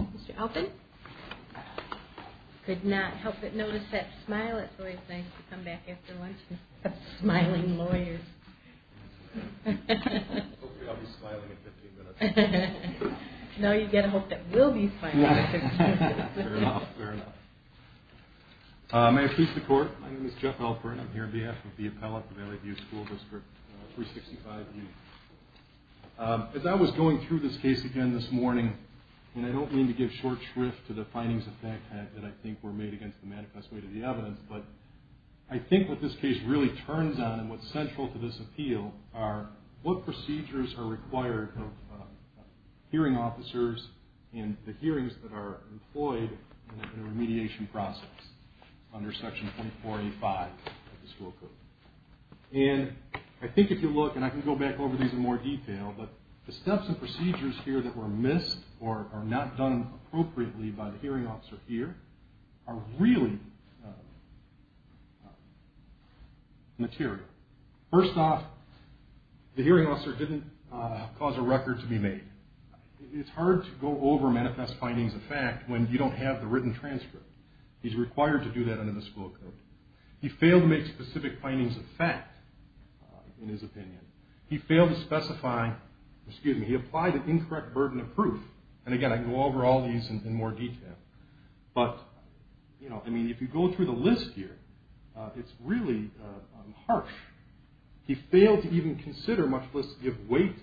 Mr. Alton? Could not help but notice that smile. It's always nice to come back after lunch and have smiling lawyers. Now you get a hope that we'll be smiling. May I please the court? My name is Jeff Alford. I'm here on behalf of the appellate of the Valley View School District 365U. As I was going through this case again this morning, and I don't mean to give short shrift to the findings of fact that I think were made against the manifest way to the evidence, but I think what this case really turns on and what's central to this appeal are what procedures are required of hearing officers and the hearings that are employed in a remediation process under Section 2485 of the school code. And I think if you look, and I can go back over these in more detail, but the steps and procedures here that were missed or are not done appropriately by the hearing officer here are really material. First off, the hearing officer didn't cause a record to be made. It's hard to go over manifest findings of fact when you don't have the written transcript. He's required to do that under the school code. He failed to make specific findings of fact in his opinion. He failed to specify, excuse me, he applied an incorrect burden of proof. And again, I can go over all these in more detail. But, you know, I mean, if you go through the list here, it's really harsh. He failed to even consider, much less give weight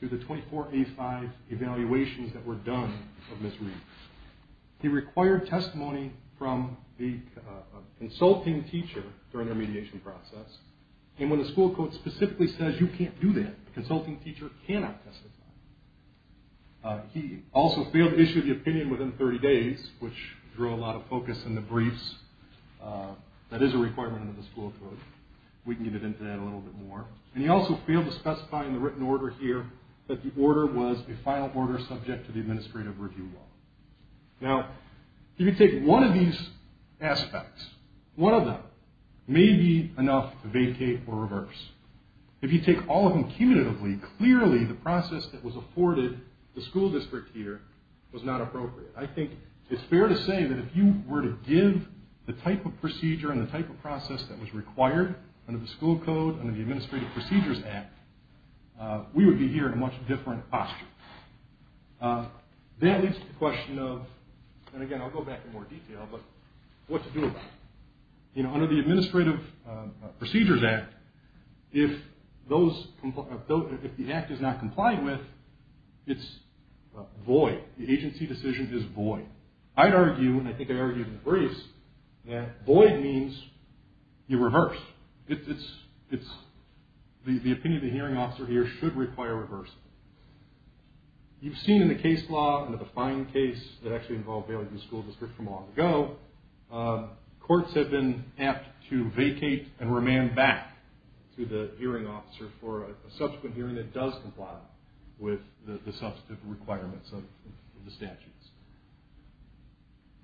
to the 2485 evaluations that were done of Ms. Reed. He required testimony from the consulting teacher during the remediation process. And when the school code specifically says you can't do that, the consulting teacher cannot testify. He also failed to issue the opinion within 30 days, which drew a lot of focus in the briefs. That is a requirement under the school code. We can get into that a little bit more. And he also failed to specify in the written order here that the order was a final order subject to the administrative review law. Now, if you take one of these aspects, one of them may be enough to vacate or reverse. If you take all of them cumulatively, clearly the process that was afforded the school district here was not appropriate. I think it's fair to say that if you were to give the type of procedure and the type of process that was required under the school code, under the Administrative Procedures Act, we would be here in a much different posture. That leads to the question of, and again I'll go back in more detail, but what to do about it. Under the Administrative Procedures Act, if the act is not complied with, it's void. The agency decision is void. I'd argue, and I think I argued in the briefs, that void means you reverse. The opinion of the hearing officer here should require reversing. You've seen in the case law and the defined case that actually involved Bailey View School District from long ago, courts have been apt to vacate and remand back to the hearing officer for a subsequent hearing that does comply with the substantive requirements of the statutes.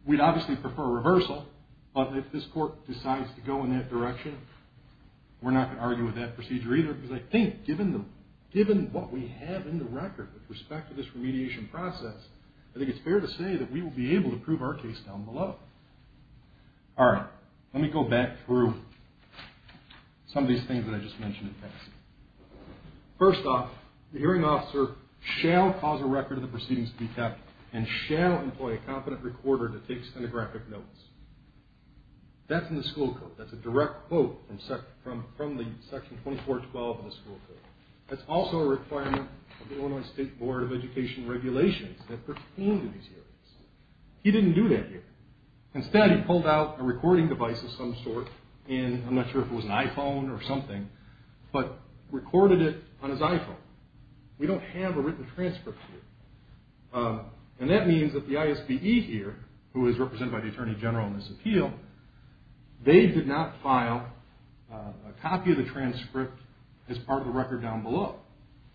We'd obviously prefer reversal, but if this court decides to go in that direction, we're not going to argue with that procedure either, because I think given what we have in the record with respect to this remediation process, I think it's fair to say that we will be able to prove our case down below. All right, let me go back through some of these things that I just mentioned in passing. First off, the hearing officer shall cause a record of the proceedings to be kept and shall employ a competent recorder to take stenographic notes. That's in the school code. That's a direct quote from Section 2412 of the school code. That's also a requirement of the Illinois State Board of Education regulations that pertain to these hearings. He didn't do that here. Instead, he pulled out a recording device of some sort in, I'm not sure if it was an iPhone or something, but recorded it on his iPhone. We don't have a written transcript here. That means that the ISPE here, who is represented by the Attorney General in this appeal, they did not file a copy of the transcript as part of the record down below.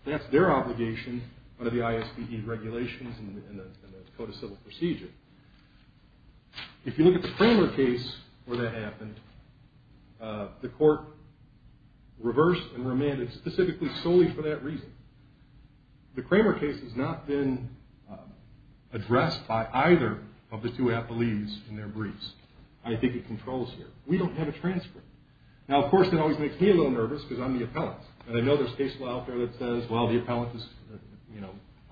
That's their obligation under the ISPE regulations and the Code of Civil Procedure. If you look at the Kramer case where that happened, the court reversed and remanded specifically solely for that reason. The Kramer case has not been addressed by either of the two appellees in their briefs. I think it controls here. We don't have a transcript. Of course, that always makes me a little nervous because I'm the appellant. I know there's case law out there that says the appellant is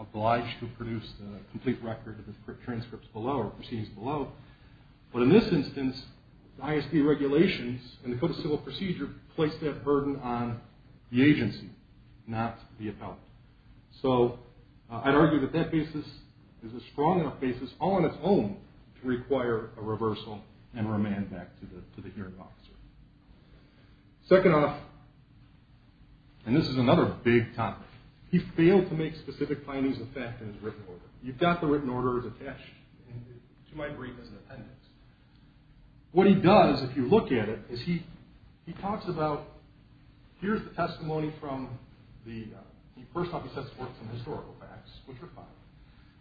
obliged to produce a complete record of the transcripts below or proceedings below. In this instance, the ISPE regulations and the Code of Civil Procedure place that burden on the agency, not the appellant. I'd argue that that basis is a strong enough basis all on its own to require a reversal and remand back to the hearing officer. Second off, and this is another big topic, he failed to make specific findings of fact in his written order. You've got the written order attached to my brief as an appendix. What he does, if you look at it, is he talks about, here's the testimony from the, he first off he sets forth some historical facts, which are fine,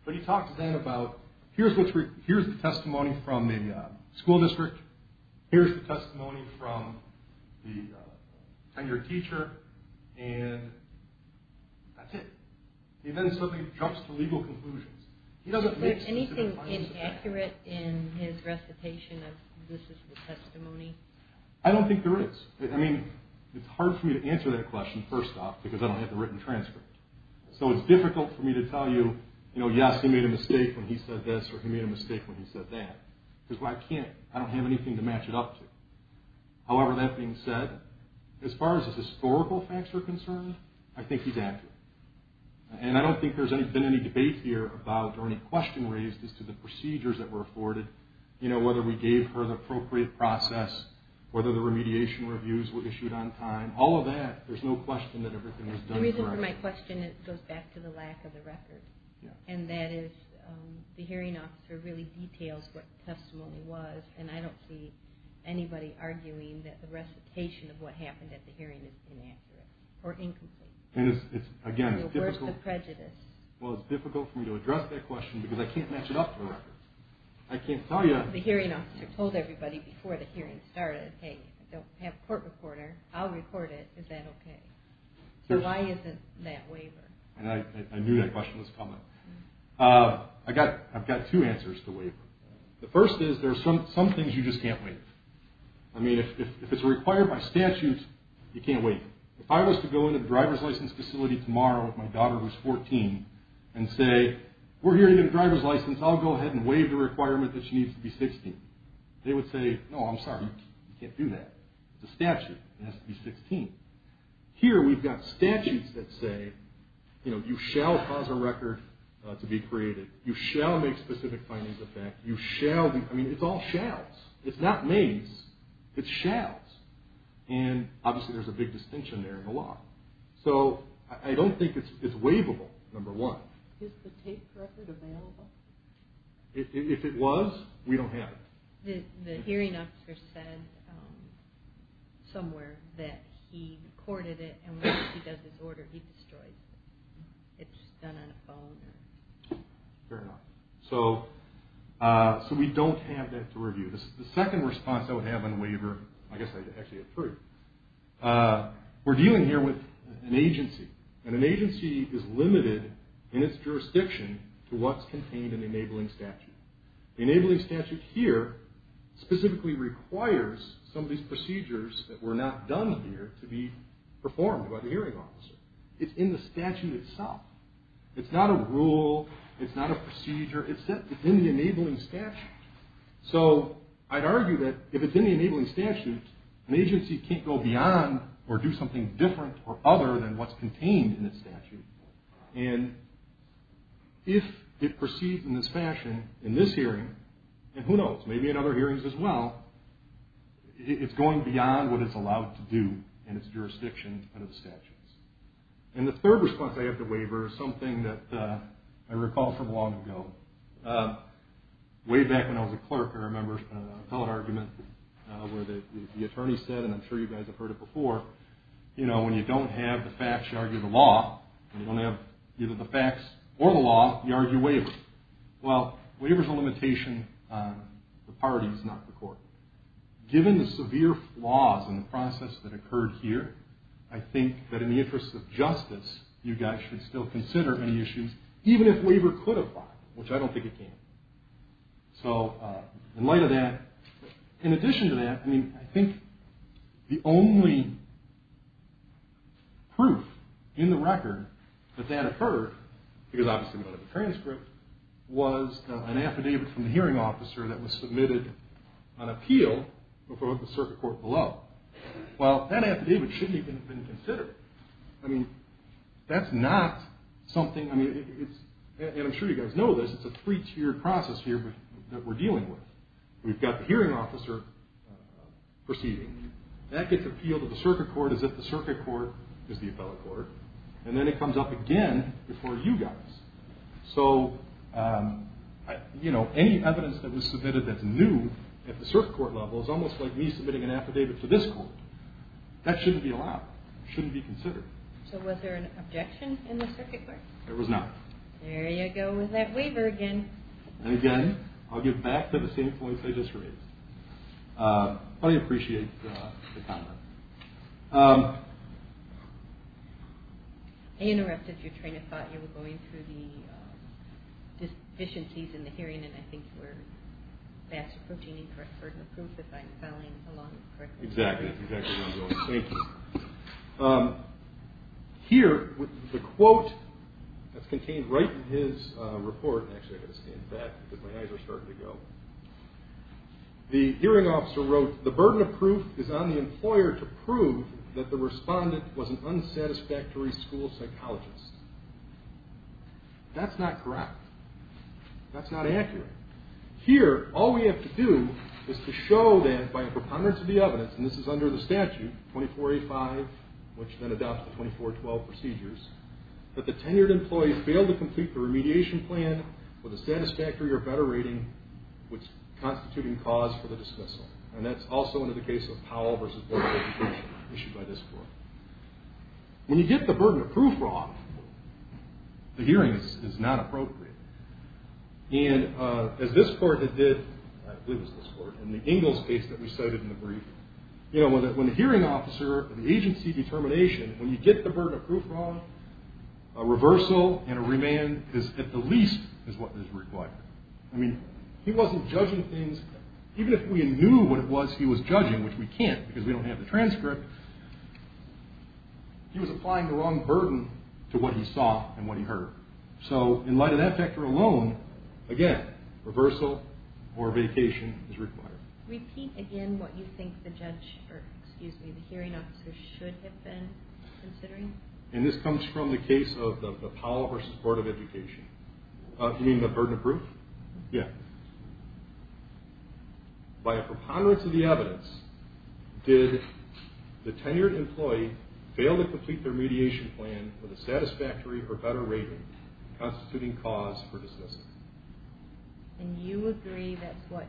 but he talks then about, here's the testimony from the school district, here's the testimony from the tenured teacher, and that's it. He then suddenly jumps to legal conclusions. Is there anything inaccurate in his recitation of, this is the testimony? I don't think there is. I mean, it's hard for me to answer that question, first off, because I don't have the written transcript. So it's difficult for me to tell you, you know, yes, he made a mistake when he said this, or he made a mistake when he said that, because I can't, I don't have anything to match it up to. However, that being said, as far as his historical facts are concerned, I think he's accurate. And I don't think there's been any debate here about, or any question raised as to the procedures that were afforded, you know, whether we gave her the appropriate process, whether the remediation reviews were issued on time, all of that, there's no question that everything was done correctly. The only reason for my question, it goes back to the lack of the record. And that is, the hearing officer really details what the testimony was, and I don't see anybody arguing that the recitation of what happened at the hearing is inaccurate, or incomplete. Again, it's difficult for me to address that question, because I can't match it up to a record. I can't tell you. The hearing officer told everybody before the hearing started, hey, I don't have a court recorder, I'll record it, is that okay? So why isn't that waiver? I knew that question was coming. I've got two answers to waiver. The first is, there are some things you just can't waive. I mean, if it's required by statute, you can't waive. If I was to go into the driver's license facility tomorrow, if my daughter was 14, and say, we're hearing a driver's license, I'll go ahead and waive the requirement that she needs to be 16. They would say, no, I'm sorry, you can't do that. It's a statute, it has to be 16. Here, we've got statutes that say, you know, you shall pause a record to be created. You shall make specific findings of that. I mean, it's all shalls. It's not mays, it's shalls. And, obviously, there's a big distinction there in the law. So, I don't think it's waivable, number one. Is the tape record available? If it was, we don't have it. The hearing officer said somewhere that he recorded it, and once he does his order, he destroys it. It's just done on a phone. Fair enough. So, we don't have that to review. The second response I would have on waiver, I guess I'd actually approve. We're dealing here with an agency, and an agency is limited in its jurisdiction to what's contained in the enabling statute. The enabling statute here specifically requires some of these procedures that were not done here to be performed by the hearing officer. It's in the statute itself. It's not a rule, it's not a procedure, it's in the enabling statute. So, I'd argue that if it's in the enabling statute, an agency can't go beyond or do something different or other than what's contained in the statute. And if it proceeds in this fashion, in this hearing, and who knows, maybe in other hearings as well, it's going beyond what it's allowed to do in its jurisdiction under the statutes. And the third response I have to waiver is something that I recall from long ago. Way back when I was a clerk, I remember an appellate argument where the attorney said, and I'm sure you guys have heard it before, you know, when you don't have the facts, you argue the law. When you don't have either the facts or the law, you argue waiver. Well, waiver's a limitation on the parties, not the court. Given the severe flaws in the process that occurred here, I think that in the interest of justice, you guys should still consider any issues, even if waiver could apply, which I don't think it can. So in light of that, in addition to that, I mean, I think the only proof in the record that that occurred, because obviously it was a transcript, was an affidavit from the hearing officer that was submitted on appeal before the circuit court below. Well, that affidavit shouldn't even have been considered. I mean, that's not something, I mean, it's, and I'm sure you guys know this, it's a three-tiered process here that we're dealing with. We've got the hearing officer proceeding. That gets appealed to the circuit court as if the circuit court is the appellate court. And then it comes up again before you guys. So, you know, any evidence that was submitted that's new at the circuit court level is almost like me submitting an affidavit to this court. That shouldn't be allowed. It shouldn't be considered. So was there an objection in the circuit court? There was not. There you go with that waiver again. And again, I'll give back to the same points I just raised. I appreciate the comment. I interrupted your train of thought. You were going through the deficiencies in the hearing, and I think we're fast approaching the correct burden of proof if I'm following along correctly. Exactly. Thank you. Here, the quote that's contained right in his report, actually I've got to stand back because my eyes are starting to go. The hearing officer wrote, the burden of proof is on the employer to prove that the respondent was an unsatisfactory school psychologist. That's not correct. That's not accurate. Here, all we have to do is to show that by a preponderance of the evidence, and this is under the statute, 2485, which then adopts the 2412 procedures, that the tenured employee failed to complete the remediation plan with a satisfactory or better rating, which constituting cause for the dismissal. And that's also under the case of Powell v. Board of Education, issued by this court. When you get the burden of proof wrong, the hearing is not appropriate. And as this court had did, I believe it was this court, in the Ingalls case that we cited in the brief, you know, when the hearing officer, the agency determination, when you get the burden of proof wrong, a reversal and a remand is at the least is what is required. I mean, he wasn't judging things, even if we knew what it was he was judging, which we can't because we don't have the transcript, he was applying the wrong burden to what he saw and what he heard. So in light of that factor alone, again, reversal or vacation is required. Repeat again what you think the judge, or excuse me, the hearing officer should have been considering. And this comes from the case of the Powell v. Board of Education. You mean the burden of proof? Yeah. By a preponderance of the evidence, did the tenured employee fail to complete their mediation plan with a satisfactory or better rating, constituting cause for dismissal? And you agree that's what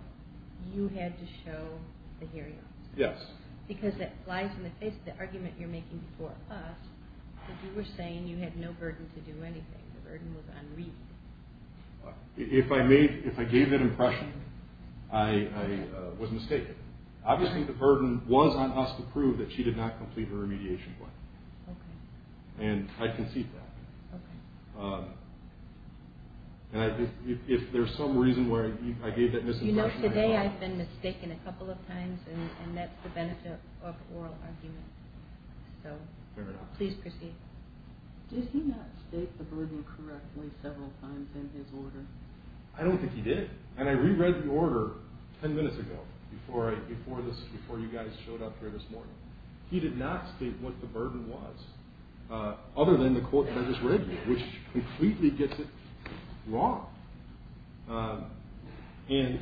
you had to show the hearing officer? Yes. Because it flies in the face of the argument you're making before us, that you were saying you had no burden to do anything. The burden was unreasonable. If I gave that impression, I was mistaken. Obviously the burden was on us to prove that she did not complete her remediation plan. Okay. And I concede that. Okay. And if there's some reason why I gave that misimpression, I apologize. You know, today I've been mistaken a couple of times, and that's the benefit of oral argument. So please proceed. Did he not state the burden correctly several times in his order? I don't think he did. And I reread the order ten minutes ago, before you guys showed up here this morning. He did not state what the burden was, other than the quote that I just read you, which completely gets it wrong. And,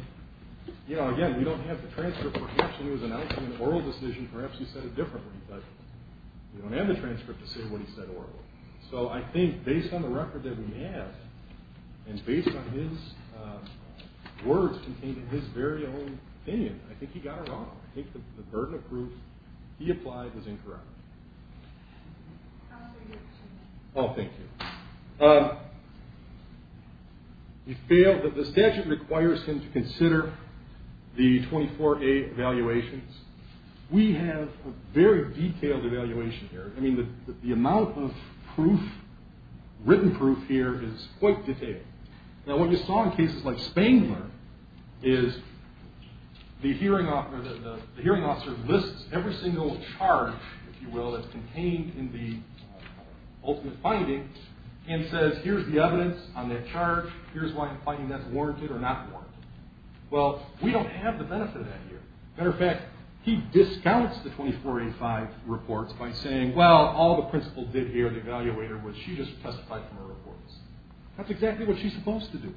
you know, again, we don't have the transcript. Perhaps he was announcing an oral decision. Perhaps he said it differently. But we don't have the transcript to say what he said orally. So I think, based on the record that we have, and based on his words contained in his very own opinion, I think he got it wrong. I think the burden of proof he applied was incorrect. Counsel, your question. Oh, thank you. He failed. The statute requires him to consider the 24A evaluations. We have a very detailed evaluation here. I mean, the amount of written proof here is quite detailed. Now, what we saw in cases like Spangler is the hearing officer lists every single charge, if you will, that's contained in the ultimate finding, and says, here's the evidence on that charge. Here's why I'm finding that's warranted or not warranted. Well, we don't have the benefit of that here. Matter of fact, he discounts the 24A5 reports by saying, well, all the principal did here, the evaluator, was she just testified from her reports. That's exactly what she's supposed to do.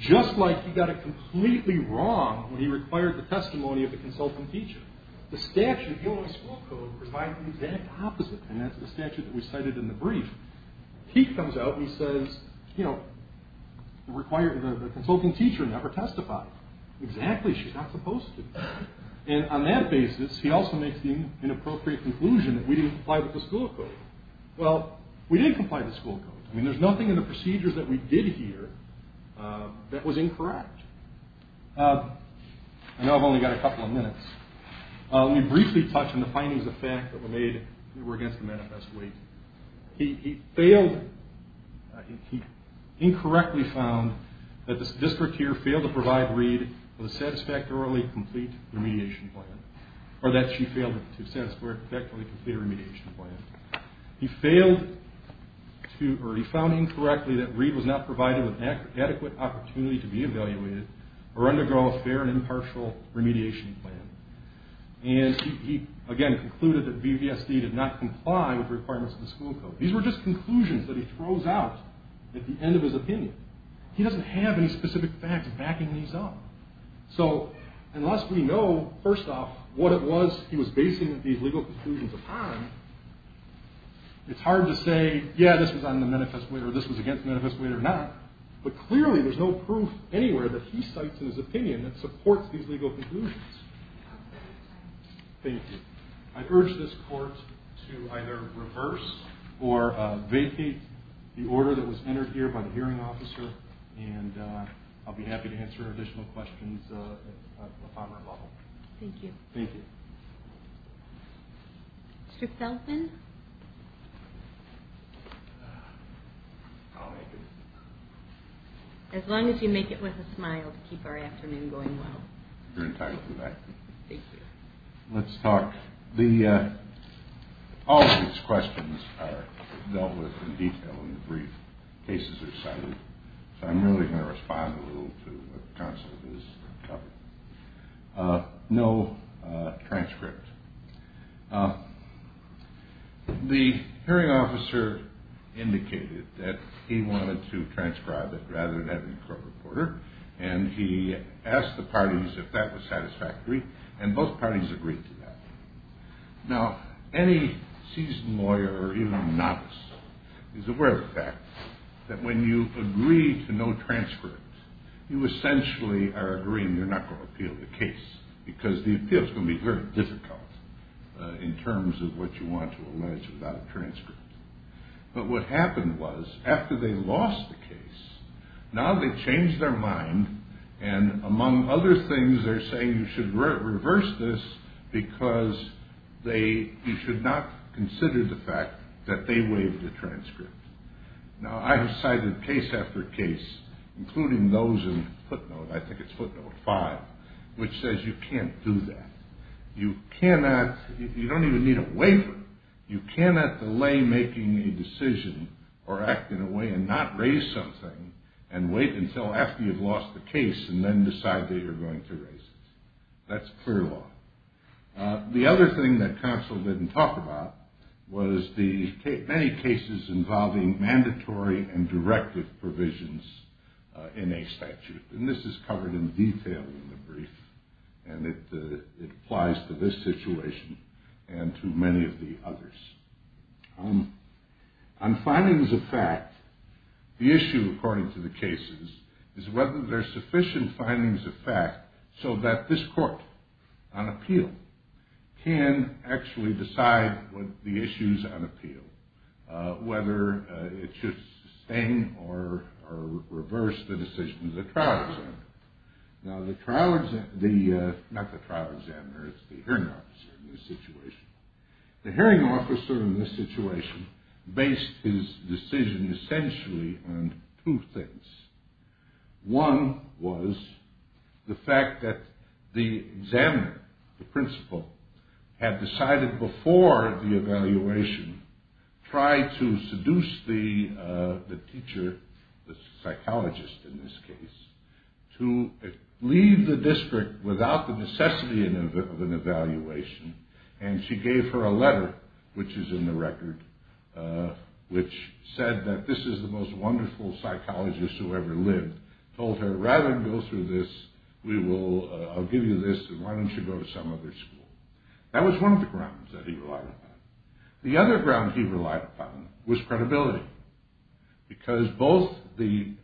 Just like he got it completely wrong when he required the testimony of the consultant teacher. The statute, the only school code, provides the exact opposite, and that's the statute that we cited in the brief. He comes out and he says, you know, the consultant teacher never testified. Exactly, she's not supposed to. And on that basis, he also makes the inappropriate conclusion that we didn't comply with the school code. Well, we didn't comply with the school code. I mean, there's nothing in the procedures that we did here that was incorrect. I know I've only got a couple of minutes. Let me briefly touch on the findings of fact that were made that were against the manifest weight. He incorrectly found that the district here failed to provide Reed with a satisfactorily complete remediation plan. Or that she failed to satisfactorily complete a remediation plan. He found incorrectly that Reed was not provided with adequate opportunity to be evaluated or undergo a fair and impartial remediation plan. And he, again, concluded that VVSD did not comply with the requirements of the school code. These were just conclusions that he throws out at the end of his opinion. He doesn't have any specific facts backing these up. So unless we know, first off, what it was he was basing these legal conclusions upon, it's hard to say, yeah, this was on the manifest weight or this was against the manifest weight or not. But clearly there's no proof anywhere that he cites in his opinion that supports these legal conclusions. Thank you. I urge this court to either reverse or vacate the order that was entered here by the hearing officer. And I'll be happy to answer additional questions at the finer level. Thank you. Thank you. Mr. Feldman? I'll make it. As long as you make it with a smile to keep our afternoon going well. You're entitled to that. Thank you. Let's talk. All of these questions are dealt with in detail in the brief. Cases are cited. So I'm really going to respond a little to what the counsel has covered. No transcript. The hearing officer indicated that he wanted to transcribe it rather than having a court reporter. And he asked the parties if that was satisfactory. And both parties agreed to that. Now, any seasoned lawyer or even a novice is aware of the fact that when you agree to no transcript, you essentially are agreeing you're not going to appeal the case. Because the appeal is going to be very difficult in terms of what you want to allege without a transcript. But what happened was after they lost the case, now they've changed their mind. And among other things, they're saying you should reverse this because you should not consider the fact that they waived the transcript. Now, I have cited case after case, including those in footnote, I think it's footnote five, which says you can't do that. You don't even need a waiver. You cannot delay making a decision or act in a way and not raise something and wait until after you've lost the case and then decide that you're going to raise it. That's clear law. The other thing that counsel didn't talk about was the many cases involving mandatory and directive provisions in a statute. And this is covered in detail in the brief. And it applies to this situation and to many of the others. On findings of fact, the issue, according to the cases, is whether there's sufficient findings of fact so that this court on appeal can actually decide what the issues on appeal, whether it should sustain or reverse the decision of the trial examiner. Now, the trial examiner, not the trial examiner, it's the hearing officer in this situation. The hearing officer in this situation based his decision essentially on two things. One was the fact that the examiner, the principal, had decided before the evaluation, tried to seduce the teacher, the psychologist in this case, to leave the district without the necessity of an evaluation. And she gave her a letter, which is in the record, which said that this is the most wonderful psychologist who ever lived, told her, rather than go through this, I'll give you this and why don't you go to some other school. That was one of the grounds that he relied upon. The other ground he relied upon was credibility. Because both the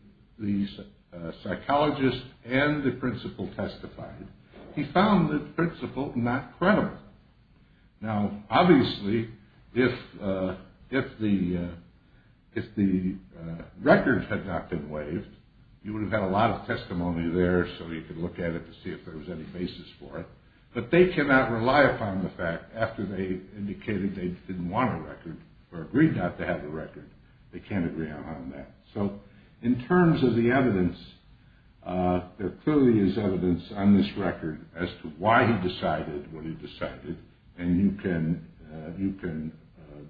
psychologist and the principal testified, he found the principal not credible. Now, obviously, if the record had not been waived, you would have had a lot of testimony there so you could look at it to see if there was any basis for it. But they cannot rely upon the fact, after they indicated they didn't want a record or agreed not to have a record, they can't agree on that. So, in terms of the evidence, there clearly is evidence on this record as to why he decided what he decided, and you can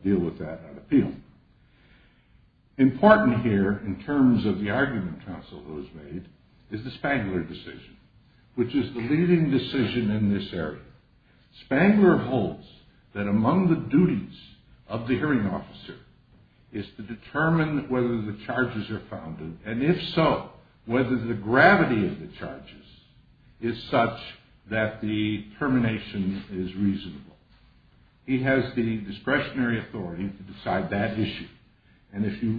deal with that on appeal. Important here, in terms of the argument Consuelo has made, is the Spangler decision, which is the leading decision in this area. Spangler holds that among the duties of the hearing officer is to determine whether the charges are founded, and if so, whether the gravity of the charges is such that the termination is reasonable. He has the discretionary authority to decide that issue. And if you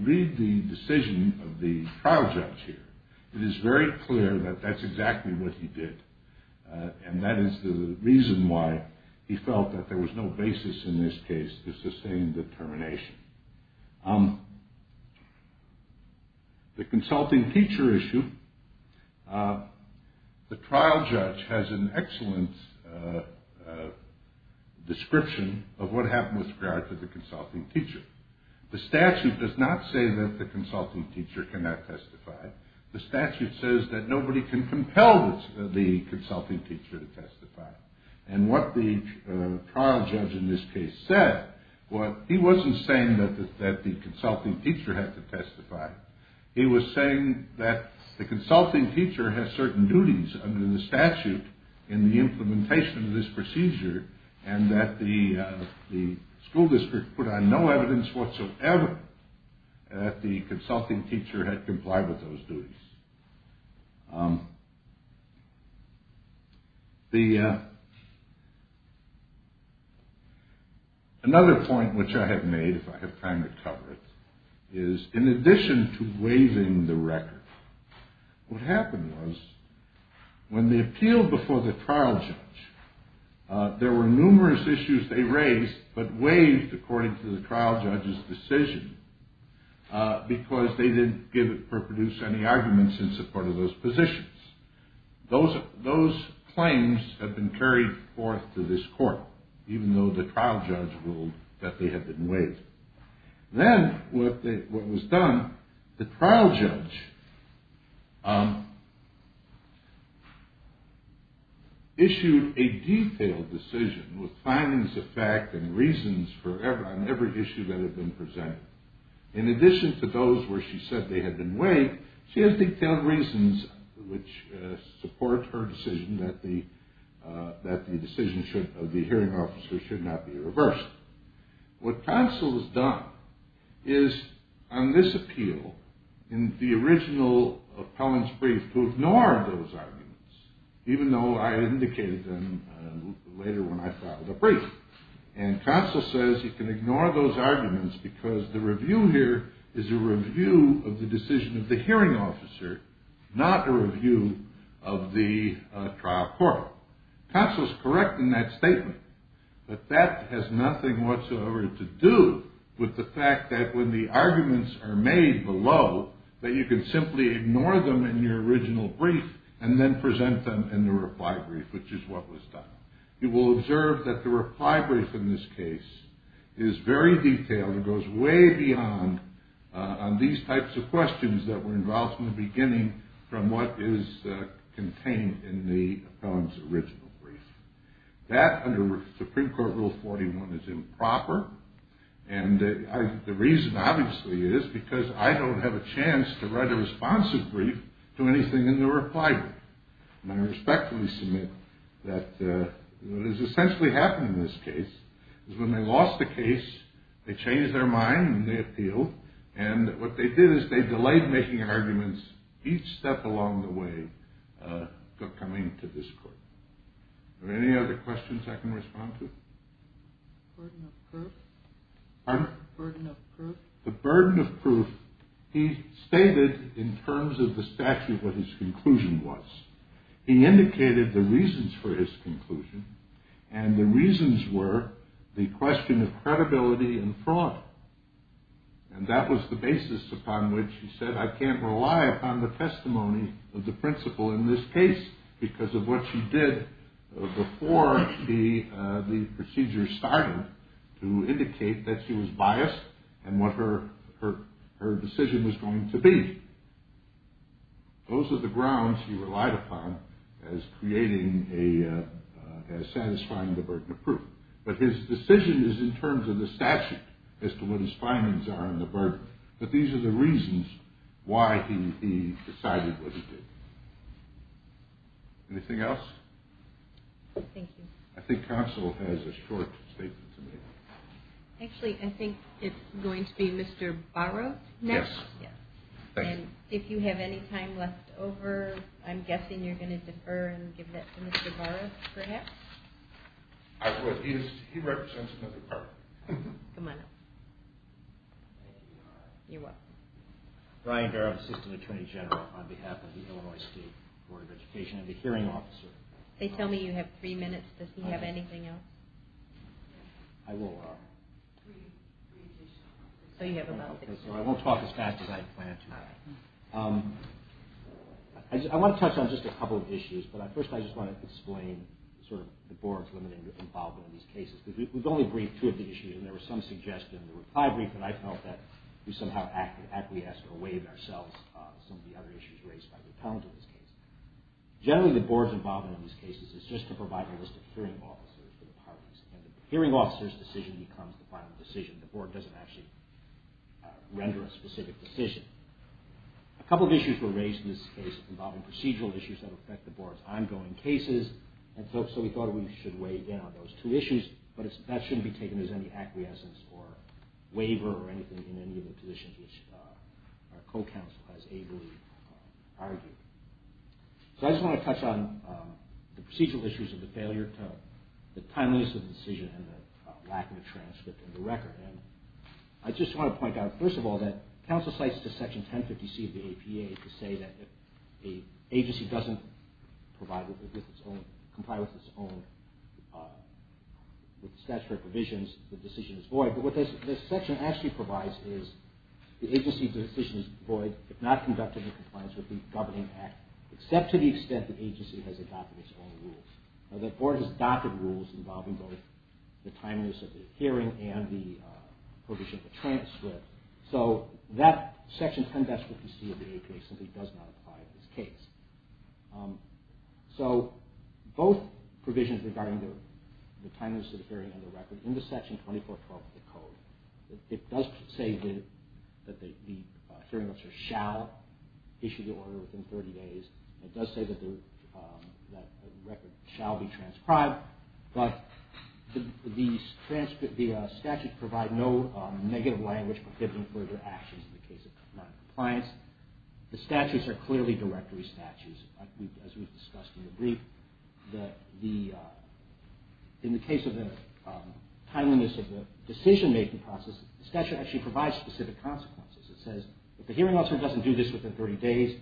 read the decision of the trial judge here, it is very clear that that's exactly what he did, and that is the reason why he felt that there was no basis in this case to sustain the termination. The consulting teacher issue, the trial judge has an excellent description of what happened with regard to the consulting teacher. The statute does not say that the consulting teacher cannot testify. The statute says that nobody can compel the consulting teacher to testify. And what the trial judge in this case said, he wasn't saying that the consulting teacher had to testify. He was saying that the consulting teacher has certain duties under the statute in the implementation of this procedure, and that the school district put on no evidence whatsoever that the consulting teacher had complied with those duties. Another point which I have made, if I have time to cover it, is in addition to waiving the record, what happened was when they appealed before the trial judge, there were numerous issues they raised, but waived according to the trial judge's decision, because they didn't give or produce any arguments in support of those positions. Those claims have been carried forth to this court, even though the trial judge ruled that they had been waived. Then what was done, the trial judge issued a detailed decision with findings of fact and reasons on every issue that had been presented. In addition to those where she said they had been waived, she has detailed reasons which support her decision that the hearing officer should not be reversed. What Consell has done is on this appeal, in the original appellant's brief, to ignore those arguments, even though I indicated them later when I filed a brief. And Consell says you can ignore those arguments because the review here is a review of the decision of the hearing officer, not a review of the trial court. Consell is correct in that statement, but that has nothing whatsoever to do with the fact that when the arguments are made below, that you can simply ignore them in your original brief and then present them in the reply brief, which is what was done. You will observe that the reply brief in this case is very detailed, and goes way beyond on these types of questions that were involved from the beginning from what is contained in the appellant's original brief. That, under Supreme Court Rule 41, is improper, and the reason obviously is because I don't have a chance to write a responsive brief to anything in the reply brief. And I respectfully submit that what has essentially happened in this case is when they lost the case, they changed their mind and they appealed, and what they did is they delayed making arguments each step along the way coming to this court. Are there any other questions I can respond to? Pardon? The burden of proof. He stated in terms of the statute what his conclusion was. He indicated the reasons for his conclusion, and the reasons were the question of credibility and fraud, and that was the basis upon which he said I can't rely upon the testimony of the principal in this case because of what she did before the procedure started to indicate that she was biased and what her decision was going to be. Those are the grounds he relied upon as satisfying the burden of proof. But his decision is in terms of the statute as to what his findings are on the burden. But these are the reasons why he decided what he did. Anything else? Thank you. I think counsel has a short statement to make. Actually, I think it's going to be Mr. Barrow next. Yes. And if you have any time left over, I'm guessing you're going to defer and give that to Mr. Barrow perhaps? He represents another department. Come on up. You're welcome. Brian Barrow, Assistant Attorney General on behalf of the Illinois State Board of Education and the Hearing Officer. They tell me you have three minutes. Does he have anything else? I will. So you have about three minutes. So I won't talk as fast as I planned to. I want to touch on just a couple of issues. But first I just want to explain sort of the board's limited involvement in these cases. Because we've only briefed two of the issues, and there were some suggestions in the reply brief that I felt that we somehow acquiesced or waived ourselves of some of the other issues raised by the accountants in this case. Generally, the board's involvement in these cases is just to provide a list of hearing officers for the parties. And the hearing officer's decision becomes the final decision. The board doesn't actually render a specific decision. A couple of issues were raised in this case involving procedural issues that affect the board's ongoing cases. And so we thought we should weigh down those two issues. But that shouldn't be taken as any acquiescence or waiver or anything in any of the positions which our co-counsel has ably argued. So I just want to touch on the procedural issues of the failure to the timeliness of the decision and the lack of a transcript of the record. And I just want to point out, first of all, that counsel cites Section 1050C of the APA to say that if an agency doesn't comply with its own statutory provisions, the decision is void. But what this section actually provides is the agency's decision is void if not conducted in compliance with the Governing Act, except to the extent the agency has adopted its own rules. The board has adopted rules involving both the timeliness of the hearing and the provision of the transcript. So that Section 1050C of the APA simply does not apply in this case. So both provisions regarding the timeliness of the hearing and the record in the Section 2412 of the Code, it does say that the hearing officer shall issue the order within 30 days. It does say that the record shall be transcribed. But the statutes provide no negative language prohibiting further actions in the case of noncompliance. The statutes are clearly directory statutes, as we've discussed in the brief. In the case of the timeliness of the decision-making process, the statute actually provides specific consequences. It says if the hearing officer doesn't do this within 30 days,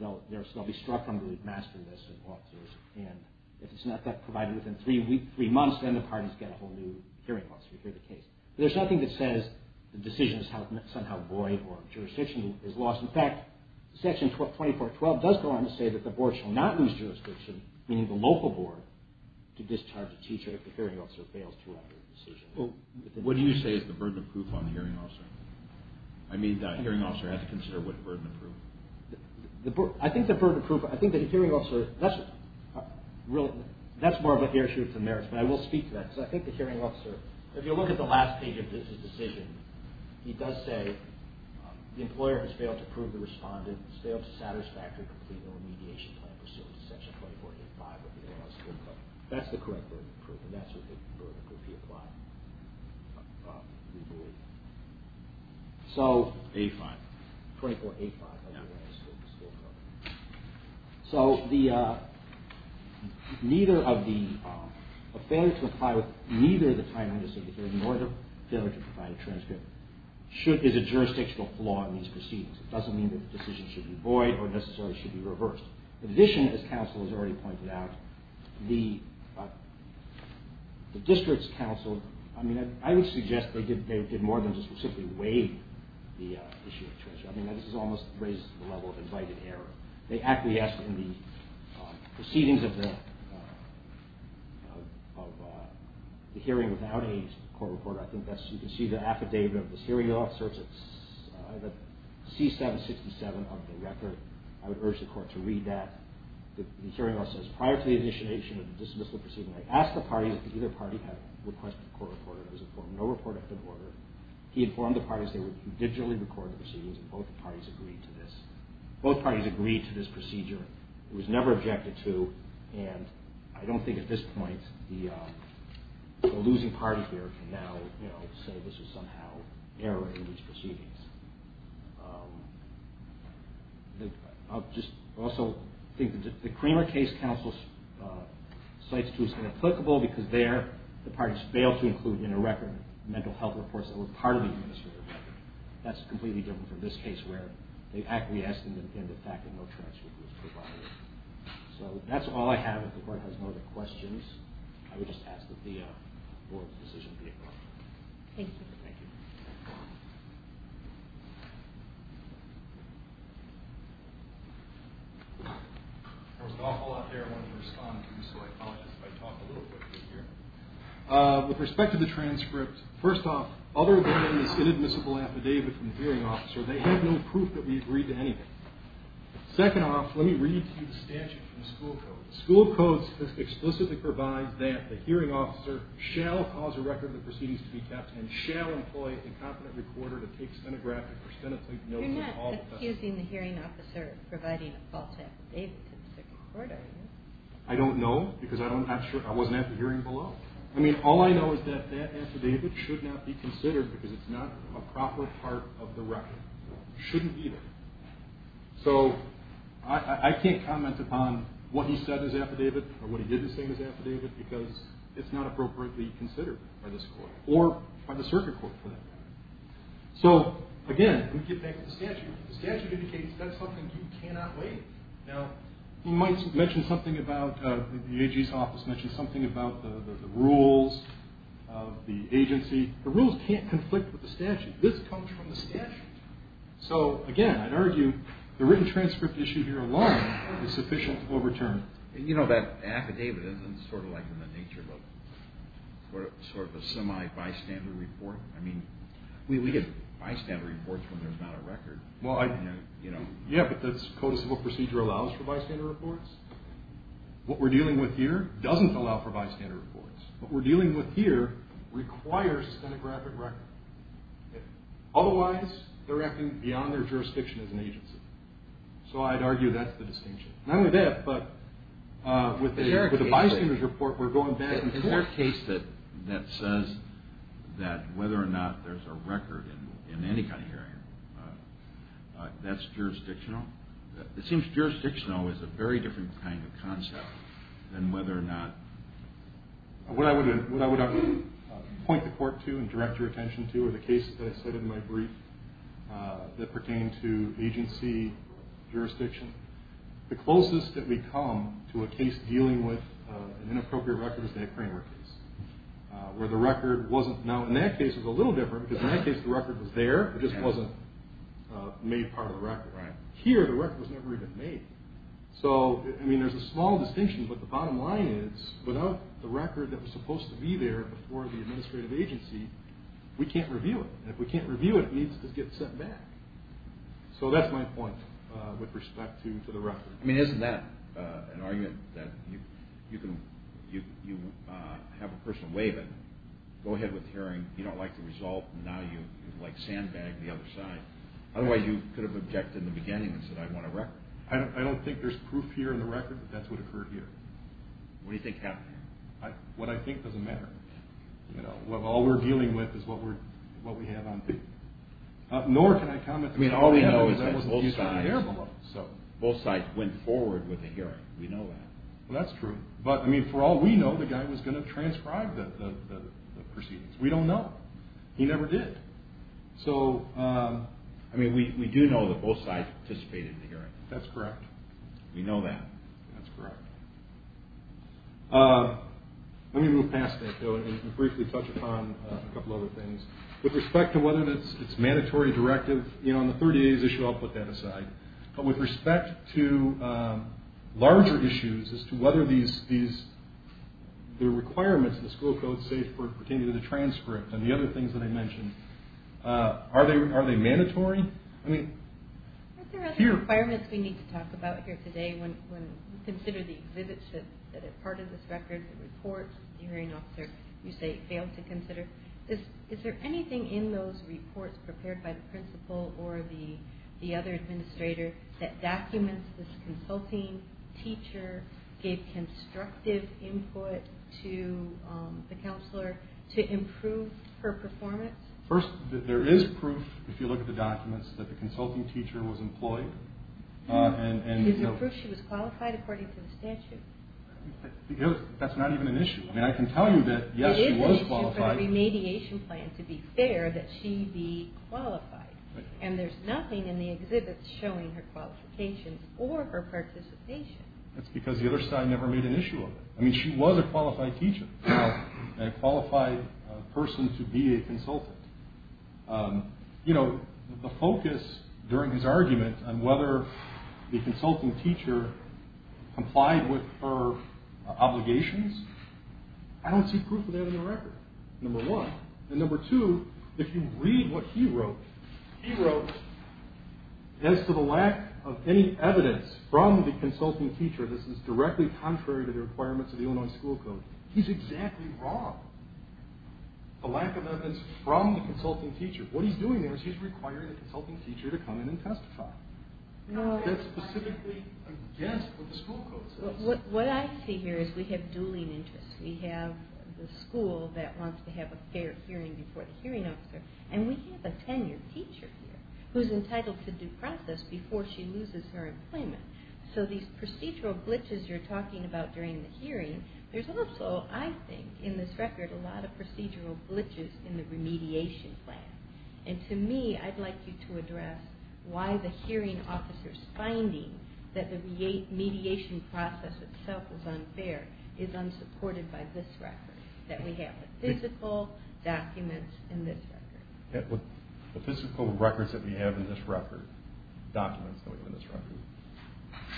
they'll be struck on the master list of officers. And if it's not provided within three months, then the parties get a whole new hearing officer to hear the case. But there's nothing that says the decision is somehow void or jurisdiction is lost. In fact, Section 2412 does go on to say that the board shall not use jurisdiction, meaning the local board, to discharge a teacher if the hearing officer fails to operate the decision. What do you say is the burden of proof on the hearing officer? I mean, the hearing officer has to consider what burden of proof. I think the burden of proof, I think the hearing officer, that's more of an issue of merits, but I will speak to that, because I think the hearing officer, if you look at the last page of his decision, he does say the employer has failed to prove the respondent, has failed to satisfy or complete the remediation plan pursuant to Section 2485 of the Illinois School Code. That's the correct burden of proof, and that's what the burden would be applied, we believe. So... A-5. 2485 of the Illinois School Code. So the, neither of the, a failure to comply with neither of the time-out decisions, nor the failure to provide a transcript, should, is a jurisdictional flaw in these proceedings. It doesn't mean that the decision should be void or necessarily should be reversed. In addition, as counsel has already pointed out, the district's counsel, I mean, I would suggest they did more than just simply waive the issue of transcription. I mean, this almost raises the level of invited error. They acquiesced in the proceedings of the hearing without a court reporter. I think that's, you can see the affidavit of the hearing officer, it's C-767 of the record. I would urge the court to read that. The hearing officer says, prior to the initiation of the dismissal proceeding, I asked the parties if either party had requested a court reporter. There was no report after the order. He informed the parties they would digitally record the proceedings, and both parties agreed to this. Both parties agreed to this procedure. It was never objected to, and I don't think at this point the losing party here can now, you know, say this was somehow error in these proceedings. I'll just also think that the Creamer case counsel cites two as inapplicable, because there the parties failed to include in a record mental health reports that were part of the administrative record. That's completely different from this case where they've acquiesced in the fact that no transcript was provided. So that's all I have. If the court has no other questions, I would just ask that the board's decision be adopted. Thank you. There was an awful lot there I wanted to respond to, so I apologize if I talk a little quickly here. With respect to the transcript, first off, other than this inadmissible affidavit from the hearing officer, they have no proof that we agreed to anything. Second off, let me read to you the statute from the school code. The school code explicitly provides that the hearing officer shall cause a record of the proceedings to be kept and shall employ a competent recorder to take stenographic or stenotype notes of all the testimony. You're not accusing the hearing officer of providing a false affidavit to the second court, are you? I don't know, because I wasn't at the hearing below. I mean, all I know is that that affidavit should not be considered because it's not a proper part of the record. It shouldn't either. So I can't comment upon what he said as affidavit or what he didn't say as affidavit because it's not appropriately considered by this court or by the circuit court for that matter. So, again, let me get back to the statute. The statute indicates that's something you cannot waive. Now, you might mention something about the AG's office mentioned something about the rules of the agency. The rules can't conflict with the statute. This comes from the statute. So, again, I'd argue the written transcript issue here alone is sufficient to overturn it. You know that affidavit isn't sort of like in the nature of a semi-bystander report. I mean, we get bystander reports when there's not a record. Yeah, but that's code of civil procedure allows for bystander reports. What we're dealing with here doesn't allow for bystander reports. What we're dealing with here requires stenographic record. Otherwise, they're acting beyond their jurisdiction as an agency. So I'd argue that's the distinction. Not only that, but with the bystander report, we're going back and forth. Is there a case that says that whether or not there's a record in any kind of hearing, that's jurisdictional? It seems jurisdictional is a very different kind of concept than whether or not. What I would point the court to and direct your attention to are the cases that I said in my brief that pertain to agency jurisdiction. The closest that we come to a case dealing with an inappropriate record is that Craneworth case, where the record wasn't. Now, in that case, it was a little different, because in that case, the record was there. It just wasn't made part of the record. Here, the record was never even made. There's a small distinction, but the bottom line is, without the record that was supposed to be there before the administrative agency, we can't review it. If we can't review it, it needs to get sent back. So that's my point with respect to the record. Isn't that an argument that you have a person waive it, go ahead with the hearing, you don't like the result, and now you sandbag the other side? Otherwise, you could have objected in the beginning and said, I want a record. I don't think there's proof here in the record that that's what occurred here. What do you think happened here? What I think doesn't matter. All we're dealing with is what we have on tape. Nor can I comment on what we have on tape. I mean, all we know is that both sides went forward with the hearing. We know that. Well, that's true. But, I mean, for all we know, the guy was going to transcribe the proceedings. We don't know. He never did. So, I mean, we do know that both sides participated in the hearing. That's correct. We know that. That's correct. Let me move past that, though, and briefly touch upon a couple other things. With respect to whether it's mandatory, directive, you know, on the 30 days issue, I'll put that aside. But with respect to larger issues as to whether the requirements in the school code say pertaining to the transcript and the other things that I mentioned, are they mandatory? I mean, here. Are there other requirements we need to talk about here today when we consider the exhibits that are part of this record, the reports that the hearing officer, you say, failed to consider? Is there anything in those reports prepared by the principal or the other administrator that documents this consulting teacher gave constructive input to the counselor to improve her performance? First, there is proof, if you look at the documents, that the consulting teacher was employed. Is there proof she was qualified according to the statute? That's not even an issue. I mean, I can tell you that, yes, she was qualified. It is an issue for the remediation plan, to be fair, that she be qualified. And there's nothing in the exhibits showing her qualifications or her participation. That's because the other side never made an issue of it. I mean, she was a qualified teacher and a qualified person to be a consultant. You know, the focus during his argument on whether the consulting teacher complied with her obligations, I don't see proof of that in the record, number one. And number two, if you read what he wrote, he wrote, as to the lack of any evidence from the consulting teacher, this is directly contrary to the requirements of the Illinois School Code, he's exactly wrong. The lack of evidence from the consulting teacher. What he's doing there is he's requiring the consulting teacher to come in and testify. That's specifically against what the school code says. What I see here is we have dueling interests. We have the school that wants to have a fair hearing before the hearing officer, and we have a tenured teacher here who's entitled to due process before she loses her employment. So these procedural glitches you're talking about during the hearing, there's also, I think, in this record, a lot of procedural glitches in the remediation plan. And to me, I'd like you to address why the hearing officer's finding that the mediation process itself is unfair is unsupported by this record, that we have the physical documents in this record. The physical records that we have in this record, documents that we have in this record,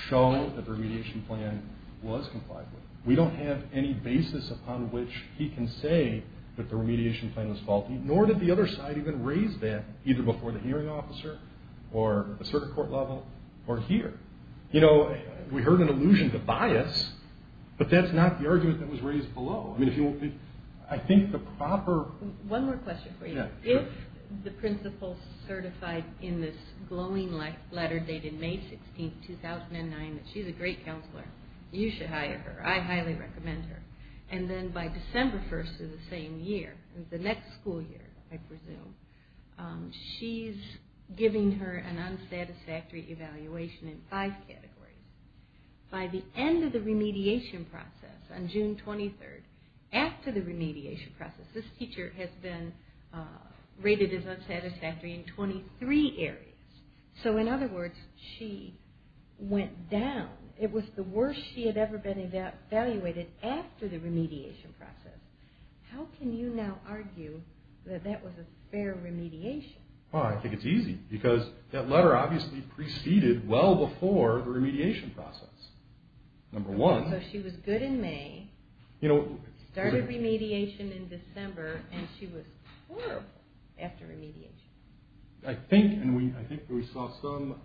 show that the remediation plan was complied with. We don't have any basis upon which he can say that the remediation plan was faulty, nor did the other side even raise that, either before the hearing officer or the circuit court level or here. You know, we heard an allusion to bias, but that's not the argument that was raised below. I think the proper... If the principal certified in this glowing letter dated May 16, 2009, that she's a great counselor, you should hire her. I highly recommend her. And then by December 1st of the same year, the next school year, I presume, she's giving her an unsatisfactory evaluation in five categories. By the end of the remediation process, on June 23rd, after the remediation process, this teacher has been rated as unsatisfactory in 23 areas. So in other words, she went down. It was the worst she had ever been evaluated after the remediation process. How can you now argue that that was a fair remediation? Well, I think it's easy, because that letter obviously preceded well before the remediation process. So she was good in May, started remediation in December, and she was horrible after remediation. I think we saw some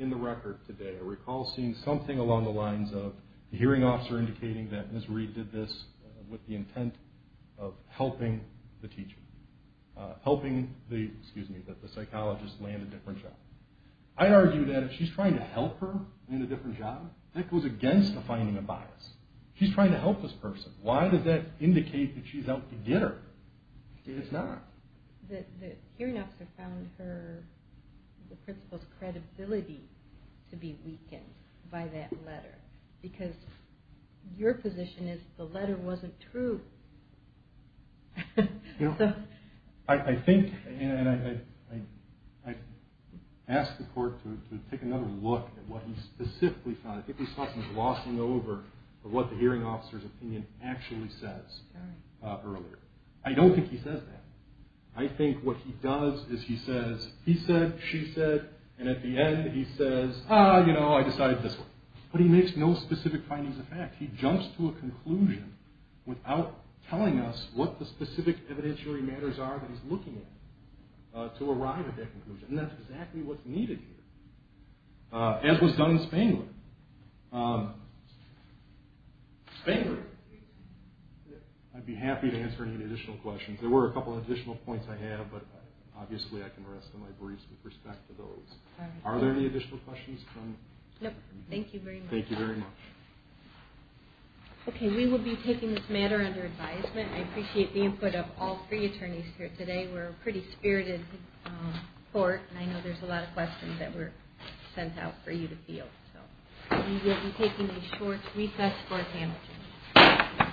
in the record today. I recall seeing something along the lines of the hearing officer indicating that Ms. Reed did this with the intent of helping the teacher, helping the psychologist land a different job. I'd argue that if she's trying to help her land a different job, that goes against defining a bias. She's trying to help this person. Why does that indicate that she's out to get her? It's not. The hearing officer found the principal's credibility to be weakened by that letter, because your position is the letter wasn't true. I think, and I'd ask the court to take another look at what he specifically found. I think we saw some glossing over of what the hearing officer's opinion actually says earlier. I don't think he says that. I think what he does is he says, he said, she said, and at the end he says, ah, you know, I decided this way. But he makes no specific findings of fact. He jumps to a conclusion without telling us what the specific evidentiary matters are that he's looking at to arrive at that conclusion. And that's exactly what's needed here, as was done in Spangler. Spangler, I'd be happy to answer any additional questions. There were a couple of additional points I had, but obviously I can rest on my breeze with respect to those. Are there any additional questions? No. Thank you very much. Okay. We will be taking this matter under advisement. I appreciate the input of all three attorneys here today. We're a pretty spirited court, and I know there's a lot of questions that were sent out for you to field. So we will be taking a short recess for our panel.